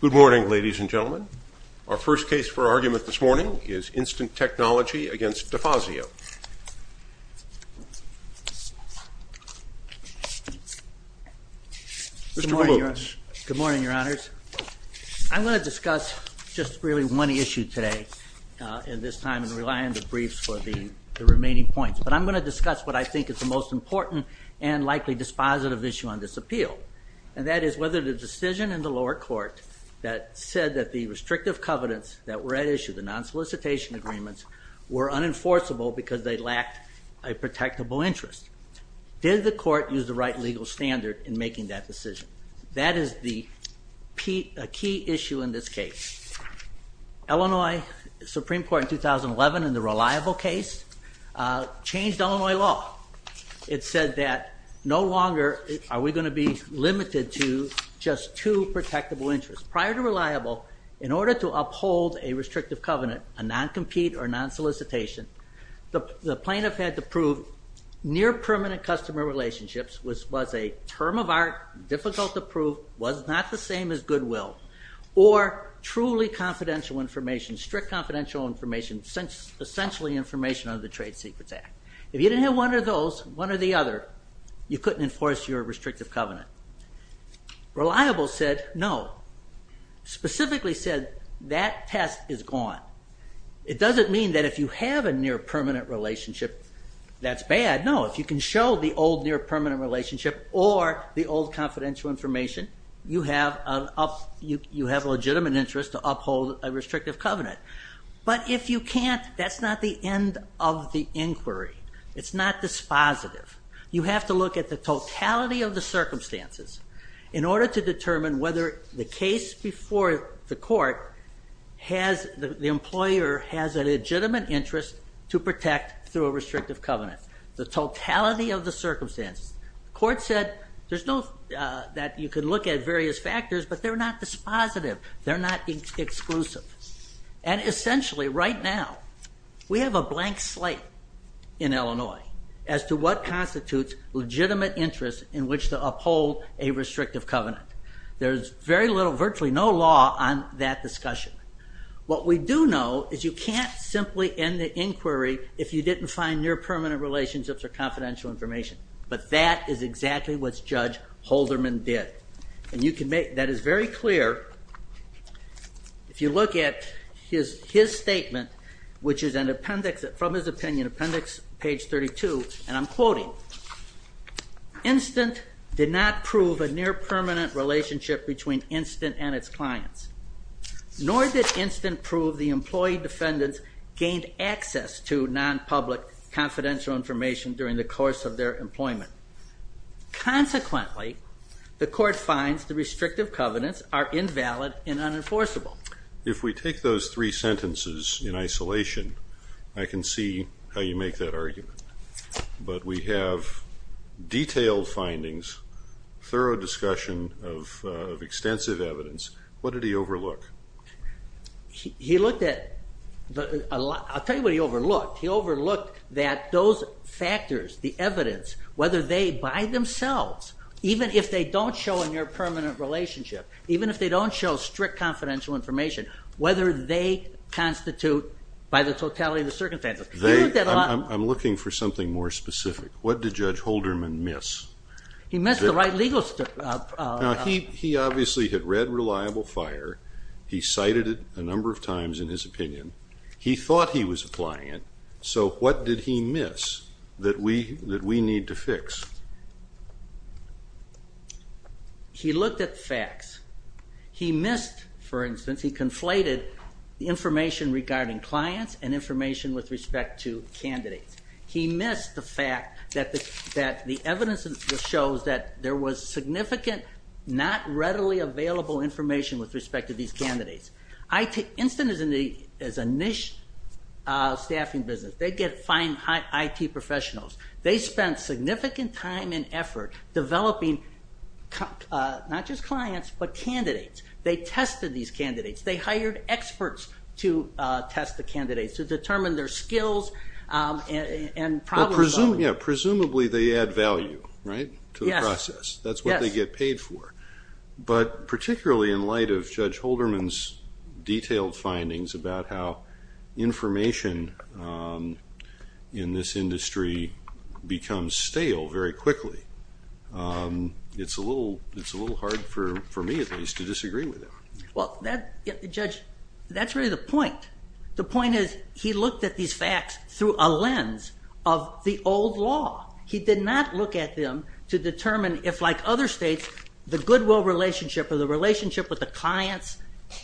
Good morning ladies and gentlemen. Our first case for argument this morning is Instant Technology v. DeFazio. Good morning, Your Honors. I'm going to discuss just really one issue today at this time and rely on the briefs for the remaining points. But I'm going to discuss what I think is the most important and likely dispositive issue on this appeal. And that is whether the decision in the lower court that said that the restrictive covenants that were at issue, the non-solicitation agreements, were unenforceable because they lacked a protectable interest. Did the court use the right legal standard in making that decision? That is the key issue in this case. Illinois Supreme Court in 2011 in the reliable case changed Illinois law. It said that no longer are we going to be limited to just two protectable interests. Prior to reliable, in order to uphold a restrictive covenant, a non-compete or non-solicitation, the plaintiff had to prove near permanent customer relationships was a term of art, difficult to prove, was not the same as goodwill, or truly confidential information, strict confidential information, essentially information under the Trade Secrets Act. If you didn't have one of those, one or the other, you couldn't enforce your restrictive covenant. Reliable said no. Specifically said that test is gone. It doesn't mean that if you have a near permanent relationship, that's bad. No, if you can show the old near permanent relationship or the old confidential information, you have a legitimate interest to uphold a non-compete inquiry. It's not dispositive. You have to look at the totality of the circumstances in order to determine whether the case before the court has, the employer has a legitimate interest to protect through a restrictive covenant. The totality of the circumstances. Court said there's no, that you can look at various factors, but they're not dispositive. They're not exclusive. And essentially right now, we have a blank slate in Illinois as to what constitutes legitimate interest in which to uphold a restrictive covenant. There's very little, virtually no law on that discussion. What we do know is you can't simply end the inquiry if you didn't find near permanent relationships or confidential information. But that is exactly what Judge Holderman did. And you can make, that is very clear. If you look at his, his statement, which is an appendix from his opinion, appendix page 32, and I'm quoting, instant did not prove a near permanent relationship between instant and its clients, nor did instant prove the employee defendants gained access to The court finds the restrictive covenants are invalid and unenforceable. If we take those three sentences in isolation, I can see how you make that argument. But we have detailed findings, thorough discussion of extensive evidence. What did he overlook? He looked at, I'll tell you what he overlooked. He overlooked that those factors, the evidence, whether they by themselves, even if they don't show a near permanent relationship, even if they don't show strict confidential information, whether they constitute by the totality of the circumstances. I'm looking for something more specific. What did Judge Holderman miss? He missed the right legal... He obviously had read Reliable Fire. He cited it a number of times in his opinion. He thought he was applying it. So what did he miss that we need to fix? He looked at the facts. He missed, for instance, he conflated the information regarding clients and information with respect to candidates. He missed the fact that the evidence shows that there was significant not readily available information with respect to these candidates. Instan is a niche staffing business. They get fine IT professionals. They spent significant time and effort developing not just clients, but candidates. They tested these candidates. They hired experts to test the candidates, to determine their skills and problem solving. Presumably they add value to the process. That's what they get paid for. But particularly in light of Judge Holderman's detailed findings about how information in this industry becomes stale very quickly, it's a little hard for me, at least, to disagree with him. Judge, that's really the point. The point is he looked at these facts through a lens of the old law. He did not look at them to determine if, like other states, the goodwill relationship or the relationship with the clients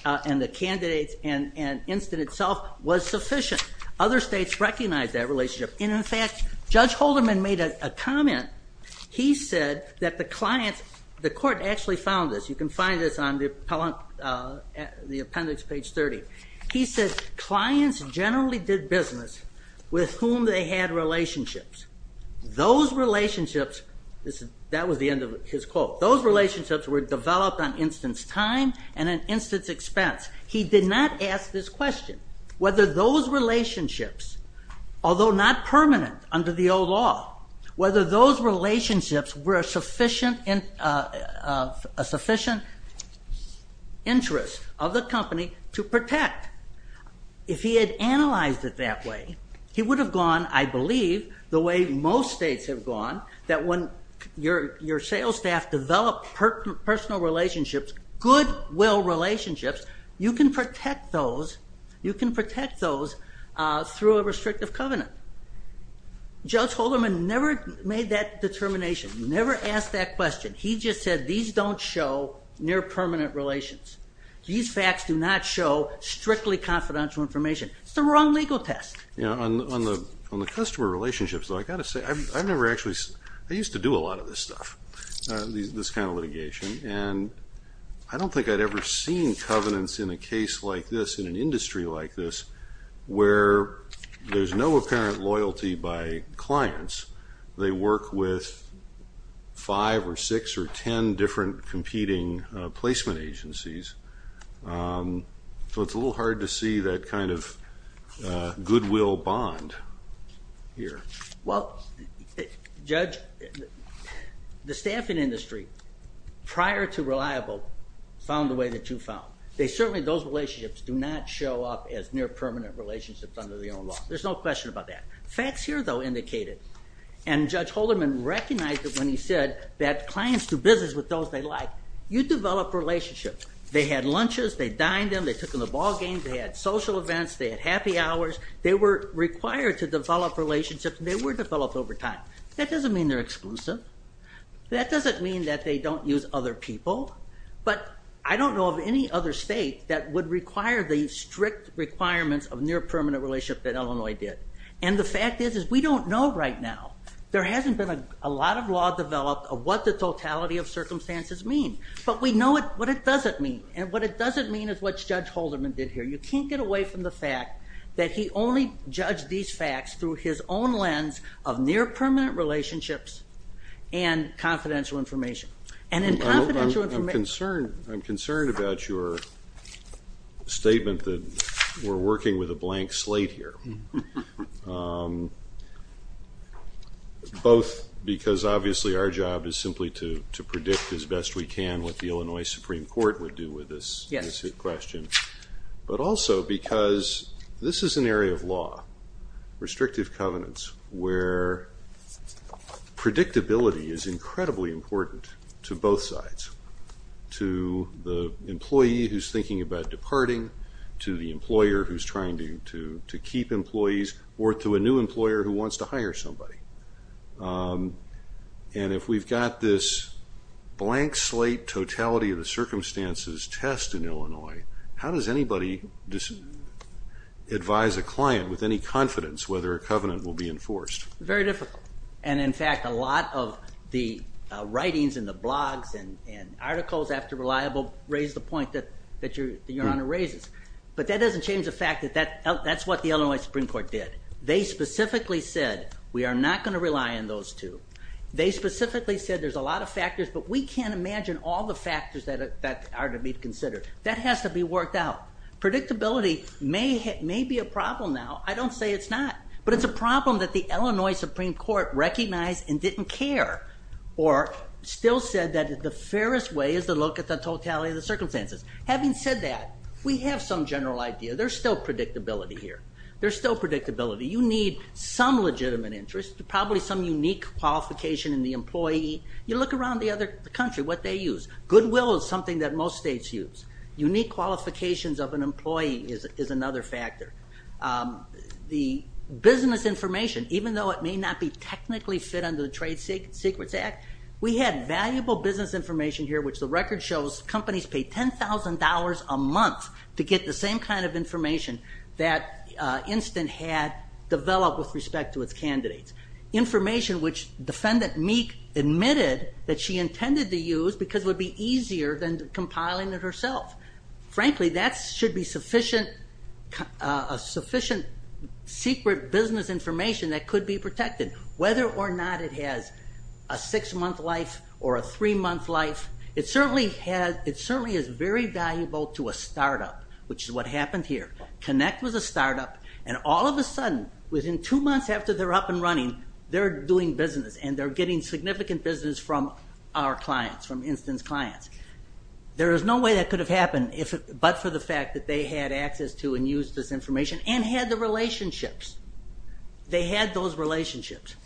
and the candidates and Instan itself was sufficient. Other states recognized that relationship. In fact, Judge Holderman made a comment. He said that the clients, the court actually found this. You can find this on the appendix, page 30. He said clients generally did business with whom they had relationships. Those relationships, that was the end of his quote, those relationships were developed on Instan's time and at Instan's expense. He did not ask this question, whether those relationships, although not permanent under the old law, whether those relationships were a sufficient interest of the company to protect. If he had analyzed it that way, he would have gone, I believe, the way most states have gone, that when your sales staff develop personal relationships, goodwill relationships, you can protect those through a restrictive covenant. Judge Holderman never made that determination. He never asked that question. He just said these don't show near permanent relations. These facts do not show strictly confidential information. It's the wrong legal test. On the customer relationships, I've got to say, I used to do a lot of this stuff, this kind of litigation. I don't think I'd ever seen covenants in a case like this in an industry like this where there's no apparent loyalty by clients. They work with five or six or ten placement agencies. So it's a little hard to see that kind of goodwill bond here. Well, Judge, the staffing industry, prior to Reliable, found the way that you found. They certainly, those relationships do not show up as near permanent relationships under the old law. There's no question about that. Facts here, though, indicate it. And Judge is right. They were required to develop relationships. They had lunches, they dined them, they took them to ball games, they had social events, they had happy hours. They were required to develop relationships and they were developed over time. That doesn't mean they're exclusive. That doesn't mean that they don't use other people. But I don't know of any other state that would require the strict requirements of near permanent relationship that Illinois did. And the fact is, is we don't know right now. There hasn't been a lot of law developed about what the totality of circumstances mean. But we know what it doesn't mean. And what it doesn't mean is what Judge Holderman did here. You can't get away from the fact that he only judged these facts through his own lens of near permanent relationships and confidential information. And in confidential information... I'm concerned about your statement that we're working with a blank slate here. Both because obviously our job is simply to predict as best we can what the Illinois Supreme Court would do with this question. But also because this is an area of law, restrictive covenants, where predictability is incredibly important to both sides. To the employee who's thinking about departing, to the employer who's trying to keep employees, or to a new employer who is. And if we've got this blank slate totality of the circumstances test in Illinois, how does anybody advise a client with any confidence whether a covenant will be enforced? Very difficult. And in fact, a lot of the writings in the blogs and articles after Reliable raise the point that Your Honor raises. But that doesn't change the fact that that's what the Illinois Supreme Court did. They specifically said, we are not going to rely on those two. They specifically said there's a lot of factors, but we can't imagine all the factors that are to be considered. That has to be worked out. Predictability may be a problem now. I don't say it's not. But it's a problem that the Illinois Supreme Court recognized and didn't care. Or still said that the fairest way is to look at the totality of the circumstances. Having said that, we have some general idea. There's still predictability here. There's still predictability. You need some legitimate interest, probably some unique qualification in the employee. You look around the country, what they use. Goodwill is something that most states use. Unique qualifications of an employee is another factor. The business information, even though it may not be technically fit under the Trade Secrets Act, we have valuable business information here, which the record shows companies pay $10,000 a month to get the same kind of information that Instant had developed with respect to its candidates. Information which Defendant Meek admitted that she intended to use because it would be easier than compiling it herself. Frankly, that should be sufficient secret business information that could be protected. Whether or not it has a six-month life or a three-month life, it certainly is very valuable to a startup, which is what happened here. Connect was a startup and all of a sudden, within two months after they're up and running, they're doing business and they're getting significant business from our clients, from Instant's clients. There is no way that could have happened but for the fact that they had access to and used this information and had the relationships. They had those relationships.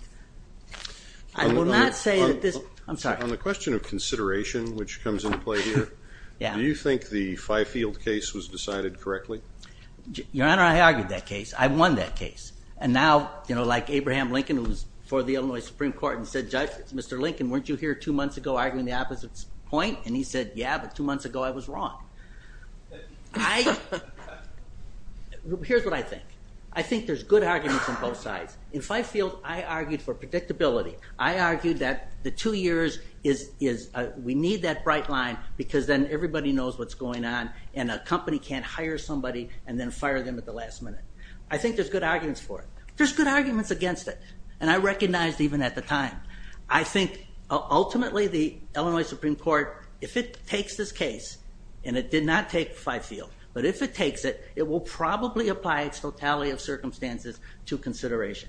I will not say that this... I'm sorry. On the question of consideration, which comes into play here, do you think the Fifield case was decided correctly? Your Honor, I argued that case. I won that case. Now, like Abraham Lincoln, who was for the Illinois Supreme Court and said, Mr. Lincoln, weren't you here two months ago arguing the opposites point? And he said, yeah, but two months ago I was wrong. Here's what I think. I think there's good arguments on both sides. In Fifield, I argued for predictability. I argued that the two years, we need that bright line because then everybody knows what's going on and a company can't hire somebody and then fire them at the last minute. I think there's good arguments for it. There's good arguments against it and I recognized even at the time. I think ultimately the Illinois Supreme Court, if it takes this case, and it did not take Fifield, but if it takes it, it will probably apply its totality of circumstances to consideration.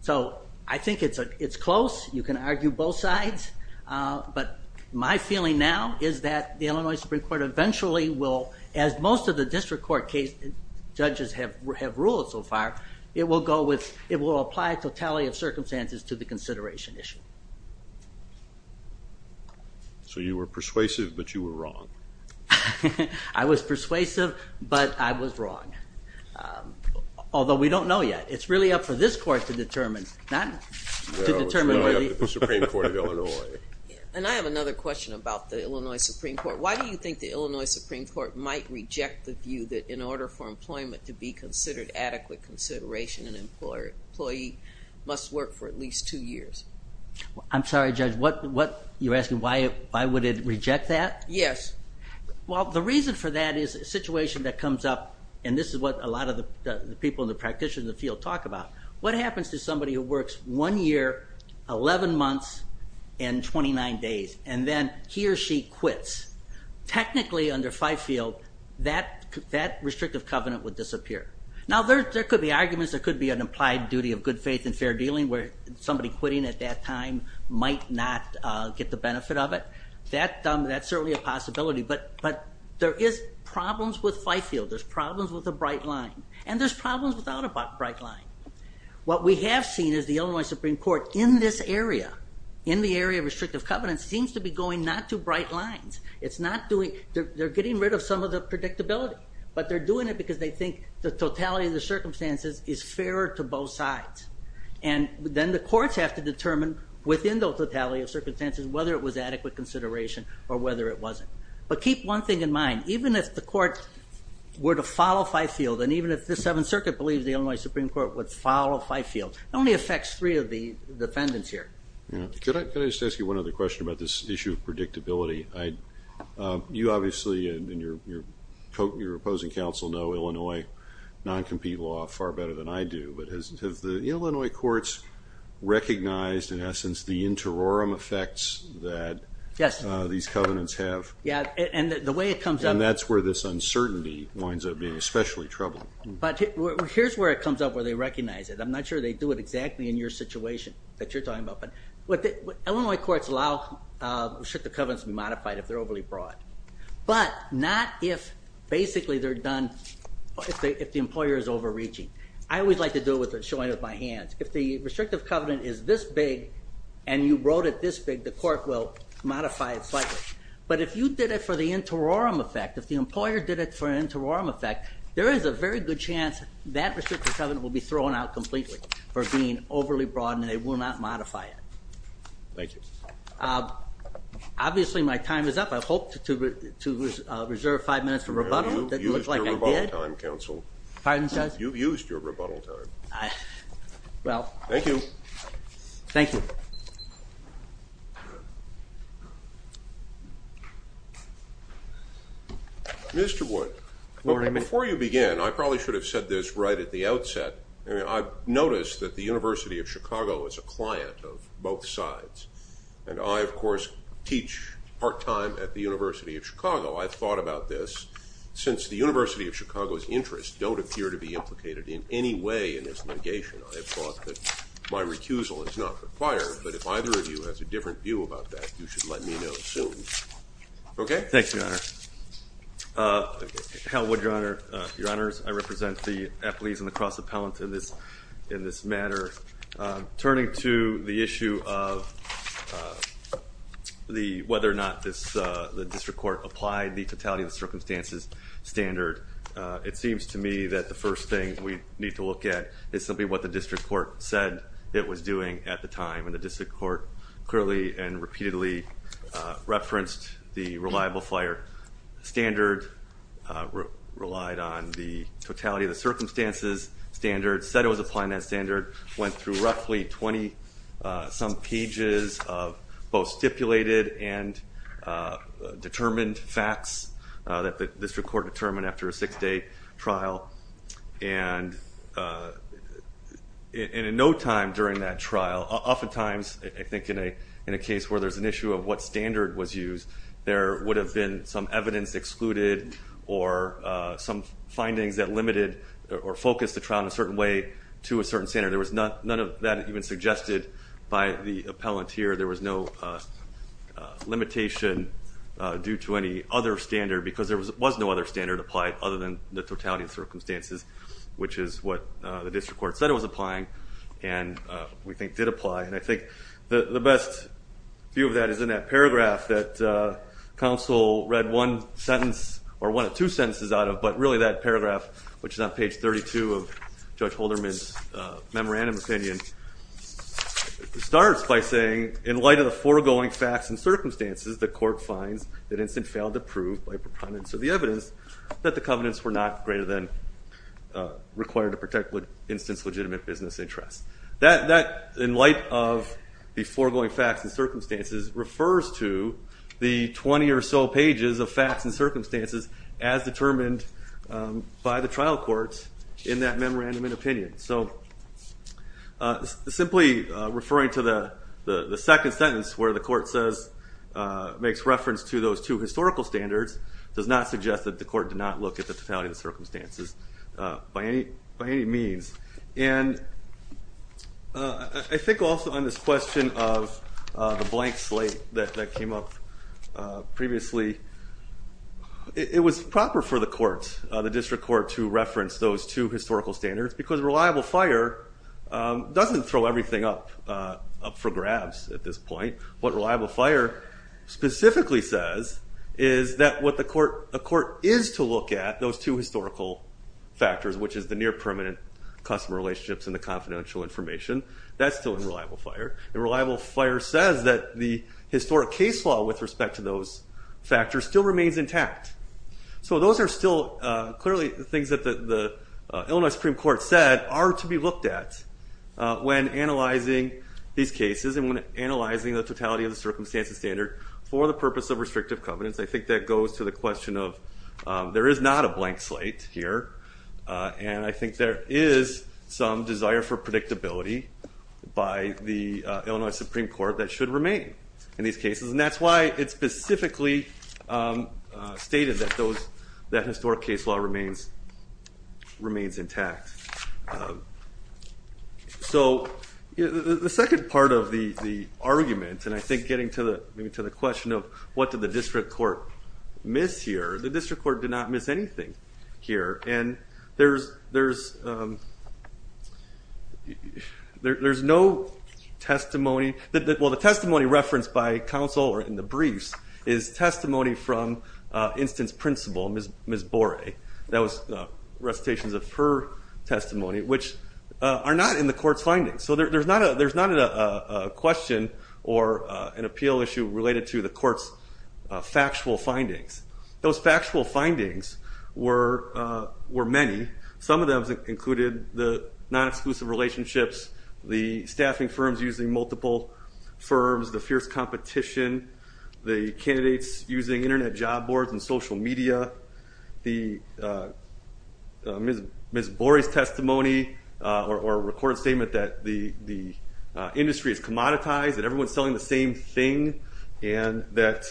So I think it's close. You can argue both sides, but my feeling now is that the Illinois Supreme Court eventually will, as most of the district court judges have ruled so far, it will go with, it will apply totality of circumstances to the consideration issue. So you were persuasive, but you were wrong. I was persuasive, but I was wrong. Although we don't know yet. It's really up for this court to determine. And I have another question about the Illinois Supreme Court. Why do you think the Illinois Supreme Court might reject the view that in order for employment to be considered adequate consideration, an employee must work for at least two years? I'm sorry judge, what, you're asking why would it reject that? Yes. Well the reason for that is a situation that comes up, and this is what a lot of the people in the practitioners of the field talk about. What happens to somebody who works one year, 11 months, and 29 days, and then he or she quits. Technically under Fifield, that restrictive covenant would disappear. Now there could be arguments, there could be an implied duty of good faith and fair dealing where somebody quitting at that time might not get the benefit of it. That that's certainly a possibility, but there is problems with Fifield. There's problems with the bright line, and there's problems without a bright line. What we have seen is the Illinois Supreme Court in this area, in the area of restrictive covenants, seems to be going not to bright lines. It's not doing, they're getting rid of some of the predictability, but they're doing it because they think the totality of the circumstances is fairer to both sides. And then the courts have to determine within the totality of circumstances whether it was adequate consideration or whether it wasn't. But keep one thing in mind, even if the court were to follow Fifield, and even if the Seventh Circuit believes the Illinois Supreme Court would follow Fifield, it only affects three of the defendants here. Yeah, could I just ask you one other question about this issue of predictability? You obviously and your opposing counsel know Illinois non-compete law far better than I do, but have the Illinois courts recognized in essence the interorum effects that these covenants have? Yeah, and the way it comes out... And that's where this uncertainty winds up being especially troubling. But here's where it comes up where they recognize it. I'm not sure they do it exactly in your situation that you're talking about, but Illinois courts allow restrictive covenants to be modified if they're overly broad. But not if basically they're done, if the employer is overreaching. I always like to do it with it showing with my hands. If the restrictive covenant is this big and you wrote it this big, the court will modify it slightly. But if you did it for the interorum effect, if the employer did it for an interorum effect, there is a very good chance that restrictive covenant will be thrown out completely for being overly broad and they will not modify it. Thank you. Obviously my time is up. I hope to reserve five minutes for rebuttal. You've used your rebuttal time, counsel. Pardon, sir? You've used your rebuttal time. Well, thank you. Thank you. Mr. Wood, before you begin, I probably should have said this right at the outset. I've noticed that the University of Chicago is a client of both sides. And I, of course, teach part-time at the University of Chicago. I thought about this since the University of Chicago's interests don't appear to be implicated in any way in this litigation. I have thought that my recusal is not required. But if either of you has a different view about that, you should let me know soon. Okay? Thank you, Your Honor. Hal Wood, Your Honors. I represent the athletes and the cross-appellant in this matter. Turning to the issue of whether or not the district court applied the totality of the circumstances standard, it seems to me that the first thing we need to look at is simply what the district court said it was doing at the time. And the district court clearly and repeatedly referenced the reliable fire standard, relied on the totality of the circumstances standard, said it was applying that standard, went through roughly 20-some pages of both stipulated and determined facts that the district court determined after a six-day trial. And in no time during that trial, oftentimes, I think in a case where there's an issue of what standard was used, there would have been some evidence excluded or some findings that limited or focused the trial in a certain way to a certain standard. There was none of that even suggested by the appellant here. There was no limitation due to any other standard because there was no other standard applied other than the totality of circumstances, which is what the district court said it was applying and we think did apply. And I think the best view of that is in that paragraph that counsel read one sentence or one of two sentences out of, but really that paragraph, which is on page 32 of Judge Holderman's memorandum opinion, starts by saying in light of the foregoing facts and circumstances, the court finds that instance failed to prove by preponderance of the evidence that the covenants were not greater than required to protect what instance legitimate business interests. That in light of the foregoing facts and circumstances to the 20 or so pages of facts and circumstances as determined by the trial courts in that memorandum and opinion. So simply referring to the second sentence where the court says, makes reference to those two historical standards, does not suggest that the court did not look at the blank slate that came up previously. It was proper for the court, the district court, to reference those two historical standards because reliable fire doesn't throw everything up for grabs at this point. What reliable fire specifically says is that what a court is to look at, those two historical factors, which is the near permanent customer relationships and the historic case law with respect to those factors, still remains intact. So those are still clearly the things that the Illinois Supreme Court said are to be looked at when analyzing these cases and when analyzing the totality of the circumstances standard for the purpose of restrictive covenants. I think that goes to the question of there is not a blank slate here and I think there is some for predictability by the Illinois Supreme Court that should remain in these cases and that's why it specifically stated that historic case law remains intact. So the second part of the argument and I think getting to the question of what did the district court miss here, the district court did not miss anything here and there's no testimony, well the testimony referenced by counsel or in the briefs is testimony from instance principal, Ms. Borre, that was recitations of her testimony, which are not in the court's findings. So there's not a question or an appeal issue related to the court's factual findings. Those factual findings were many. Some of them included the non-exclusive relationships, the staffing firms using multiple firms, the fierce competition, the candidates using internet job boards and social media, Ms. Borre's testimony or recorded statement that the industry is commoditized and everyone's selling the same thing and that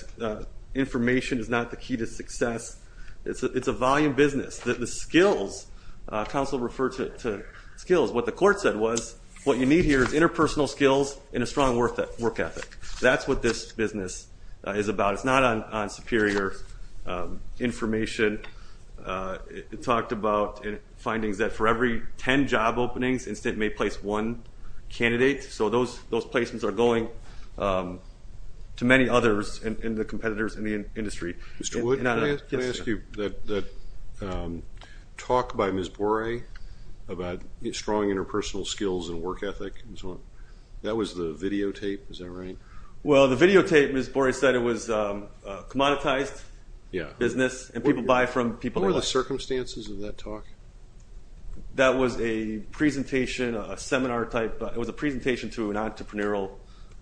information is not the key to success. It's a volume business that the skills, counsel referred to skills, what the court said was what you need here is interpersonal skills and a strong work ethic. That's what this business is about. It's not on superior information. It talked about findings that for every 10 job openings, instant may place one candidate. So those placements are going to many others and the competitors in the industry. Mr. Wood, can I ask you, that talk by Ms. Borre about strong interpersonal skills and work ethic, that was the videotape, is that right? Well the videotape, Ms. Borre said it was commoditized business and people buy from people. What were the that was a presentation, a seminar type, but it was a presentation to an entrepreneurial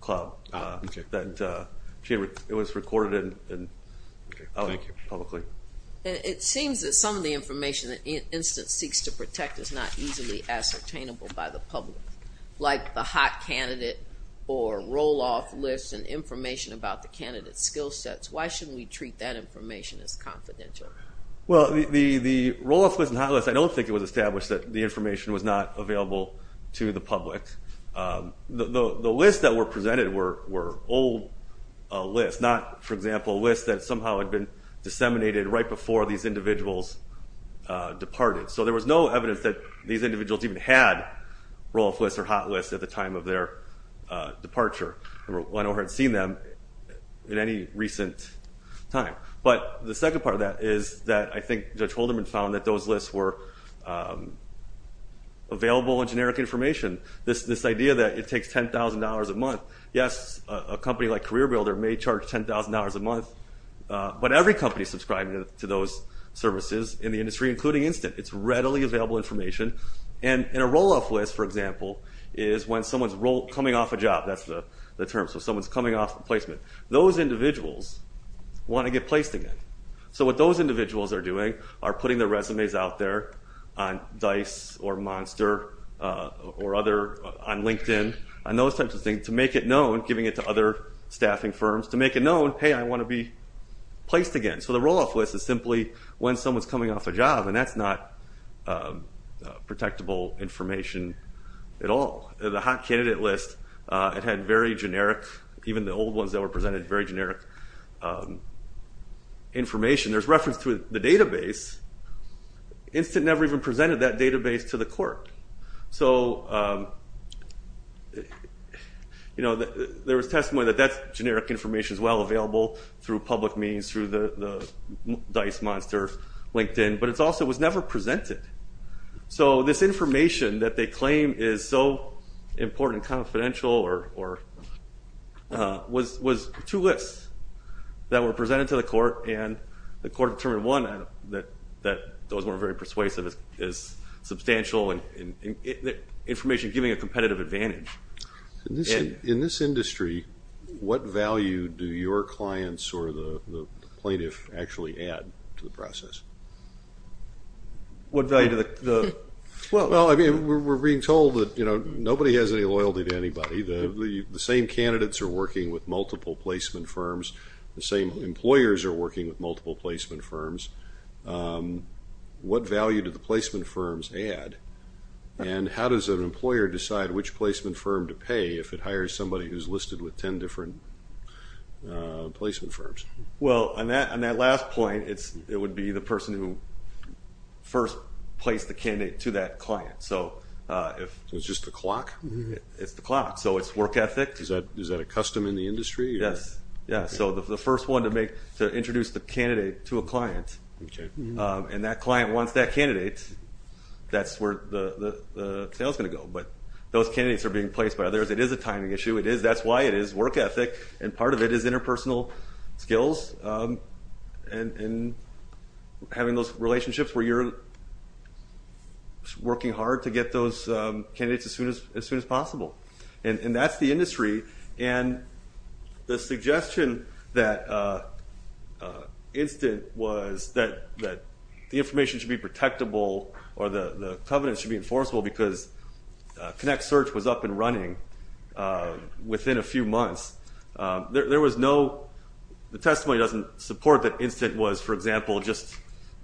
club that it was recorded and publicly. It seems that some of the information that instance seeks to protect is not easily ascertainable by the public, like the hot candidate or roll-off list and information about the candidates skill sets. Why shouldn't we treat that information as established that the information was not available to the public. The lists that were presented were old lists, not for example, lists that somehow had been disseminated right before these individuals departed. So there was no evidence that these individuals even had roll-off lists or hot lists at the time of their departure. No one had seen them in any recent time. But the second part of that is that I think Judge Holderman found that those lists were available in generic information. This idea that it takes $10,000 a month. Yes, a company like CareerBuilder may charge $10,000 a month, but every company subscribing to those services in the industry, including Instant, it's readily available information. And in a roll-off list, for example, is when someone's coming off a job, that's the term, so someone's coming off a placement. Those individuals want to get placed again. So what those individuals are doing are putting their resumes out there on Dice or Monster or other, on LinkedIn, on those types of things to make it known, giving it to other staffing firms to make it known, hey, I want to be placed again. So the roll-off list is simply when someone's coming off a job and that's not protectable information at all. The hot candidate list, it had very generic, even the old ones that were presented, very generic information. There's reference to the database. Instant never even presented that database to the court. So there was testimony that that generic information is well available through public means, through the Dice, Monster, LinkedIn, but it also was never presented. So this information that they claim is so important and confidential was two lists that were presented to the court and the court determined one, that those weren't very persuasive, is substantial and information giving a competitive advantage. In this industry, what value do your clients or the plaintiff actually add to the process? What value do the... Well, I mean, we're being told that, you know, nobody has any loyalty to anybody. The same candidates are working with multiple placement firms. The same employers are working with multiple placement firms. What value do the placement firms add and how does an employer decide which placement firm to pay if it hires somebody who's listed with ten different placement firms? Well, on that last point, it would be the person who first placed the candidate to that client. So it's just the clock? It's the clock. So it's work ethic. Is that a custom in the industry? Yes. Yeah. So the first one to introduce the candidate to a client, and that client wants that candidate, that's where the sale's going to go. But those candidates are being placed by others. It is a timing issue. That's why it is work ethic and part of it is interpersonal skills and having those relationships where you're working hard to get those candidates as soon as possible. And that's the industry. And the suggestion that Instant was that the information should be protectable or the covenants should be enforceable because Connect Search was up and running within a few months. There was no... The testimony doesn't support that Instant was, for example, just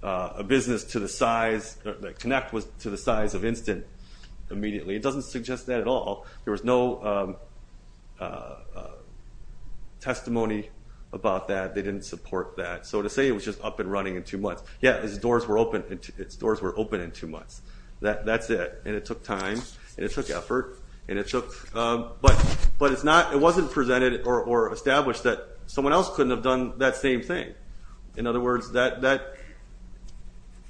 a business to the size... Connect was to the size of Instant immediately. It doesn't suggest that at all. There was no testimony about that. They didn't support that. So to say it was just up and running in two months. Yeah, its doors were open in two months. That's it. And it took time, and it took effort, and it took... But it wasn't presented or established that someone else couldn't have done that same thing. In other words, that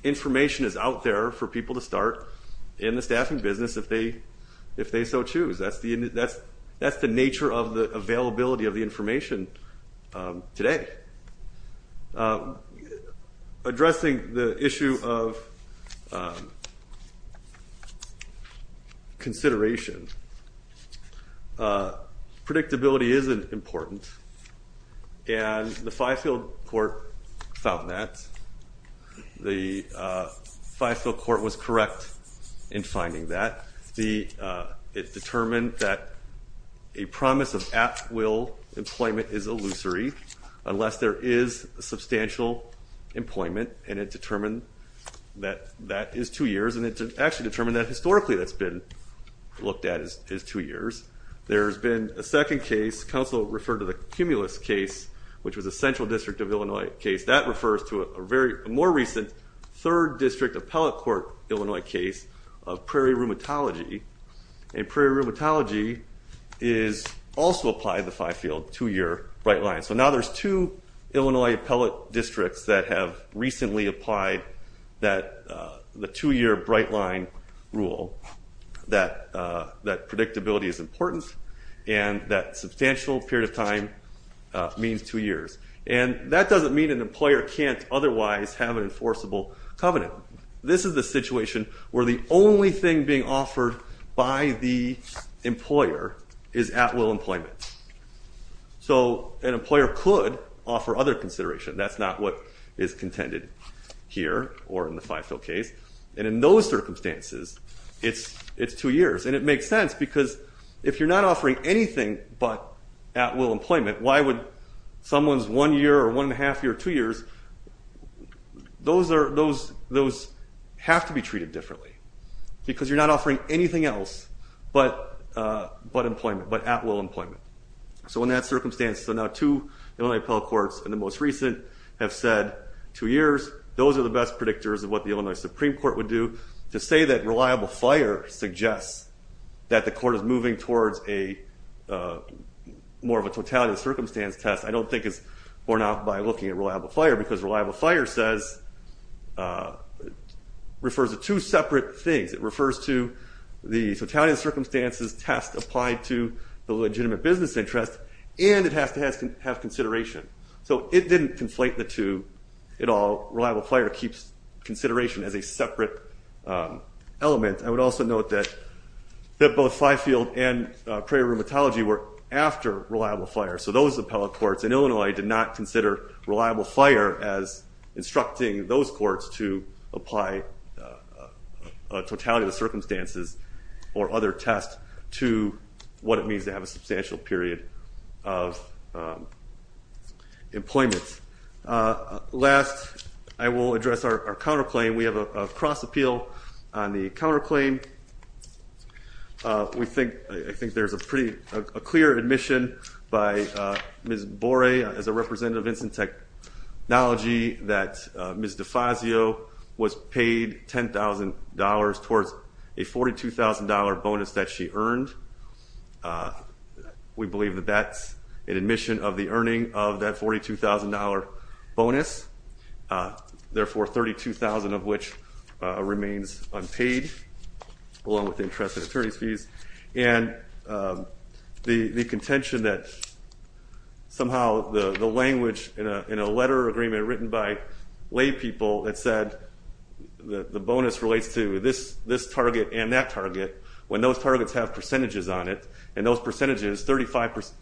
information is out there for people to start in the staffing business if they so choose. That's the nature of the consideration. Predictability is important, and the Fifield Court found that. The Fifield Court was correct in finding that. It determined that a promise of at-will employment is illusory unless there is substantial employment, and it determined that that is two years, and it actually determined that historically that's been looked at as two years. There's been a second case. Counsel referred to the Cumulus case, which was a central district of Illinois case. That refers to a more recent third district appellate court Illinois case of Prairie Rheumatology, and Prairie Rheumatology is also applied to the Fifield two-year bright line. So now there's two Illinois appellate districts that have recently applied the two-year bright line rule that predictability is important, and that substantial period of time means two years. And that doesn't mean an employer can't otherwise have an enforceable covenant. This is the situation where the only thing being offered by the employer is at-will employment. So an employer could offer other consideration. That's not what is contended here or in the Fifield case, and in those circumstances, it's two years. And it makes sense because if you're not offering anything but at-will employment, why would someone's one year or one and a half year or two years, those have to be treated differently because you're not offering anything else but employment, but at-will employment. So in that circumstance, so now two Illinois appellate courts in the most recent have said two years. Those are the best predictors of what the Illinois Supreme Court would do to say that reliable fire suggests that the court is moving towards a more of a totality of circumstance test. I don't think it's borne out by looking at reliable fire because reliable fire refers to two separate things. It refers to the totality of circumstances test applied to the legitimate business interest, and it has to have consideration. So it didn't conflate the two at all. Reliable fire keeps consideration as a separate element. I would also note that both Fifield and Prairie Rheumatology were after reliable fire, so those appellate courts in Illinois did not consider reliable fire as instructing those courts to apply a totality of circumstances or other tests to what it means to have a substantial period of employment. Last, I will address our counterclaim. We have a cross appeal on the counterclaim. We think, I think there's a pretty clear admission by Ms. Borre as a representative of Instant Technology that Ms. DeFazio was paid $10,000 towards a $42,000 bonus that she earned. We believe that that's an admission of the earning of that $42,000 bonus, therefore $32,000 of which remains unpaid, along with the interest and attorney's fees. And the contention that somehow the language in a letter agreement written by laypeople that said the bonus relates to this target and that target, when those targets have percentages on it, and those percentages, 35%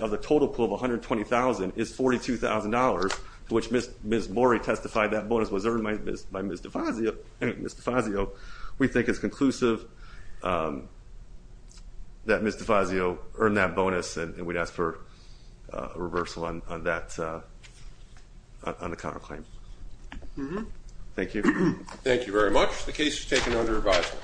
of the total pool of $120,000 is $42,000, which Ms. Borre testified that bonus was earned by Ms. DeFazio. We think it's conclusive that Ms. DeFazio earned that bonus, and we'd ask for a reversal on that, on the counterclaim. Thank you. Thank you very much. The case is taken under advisement.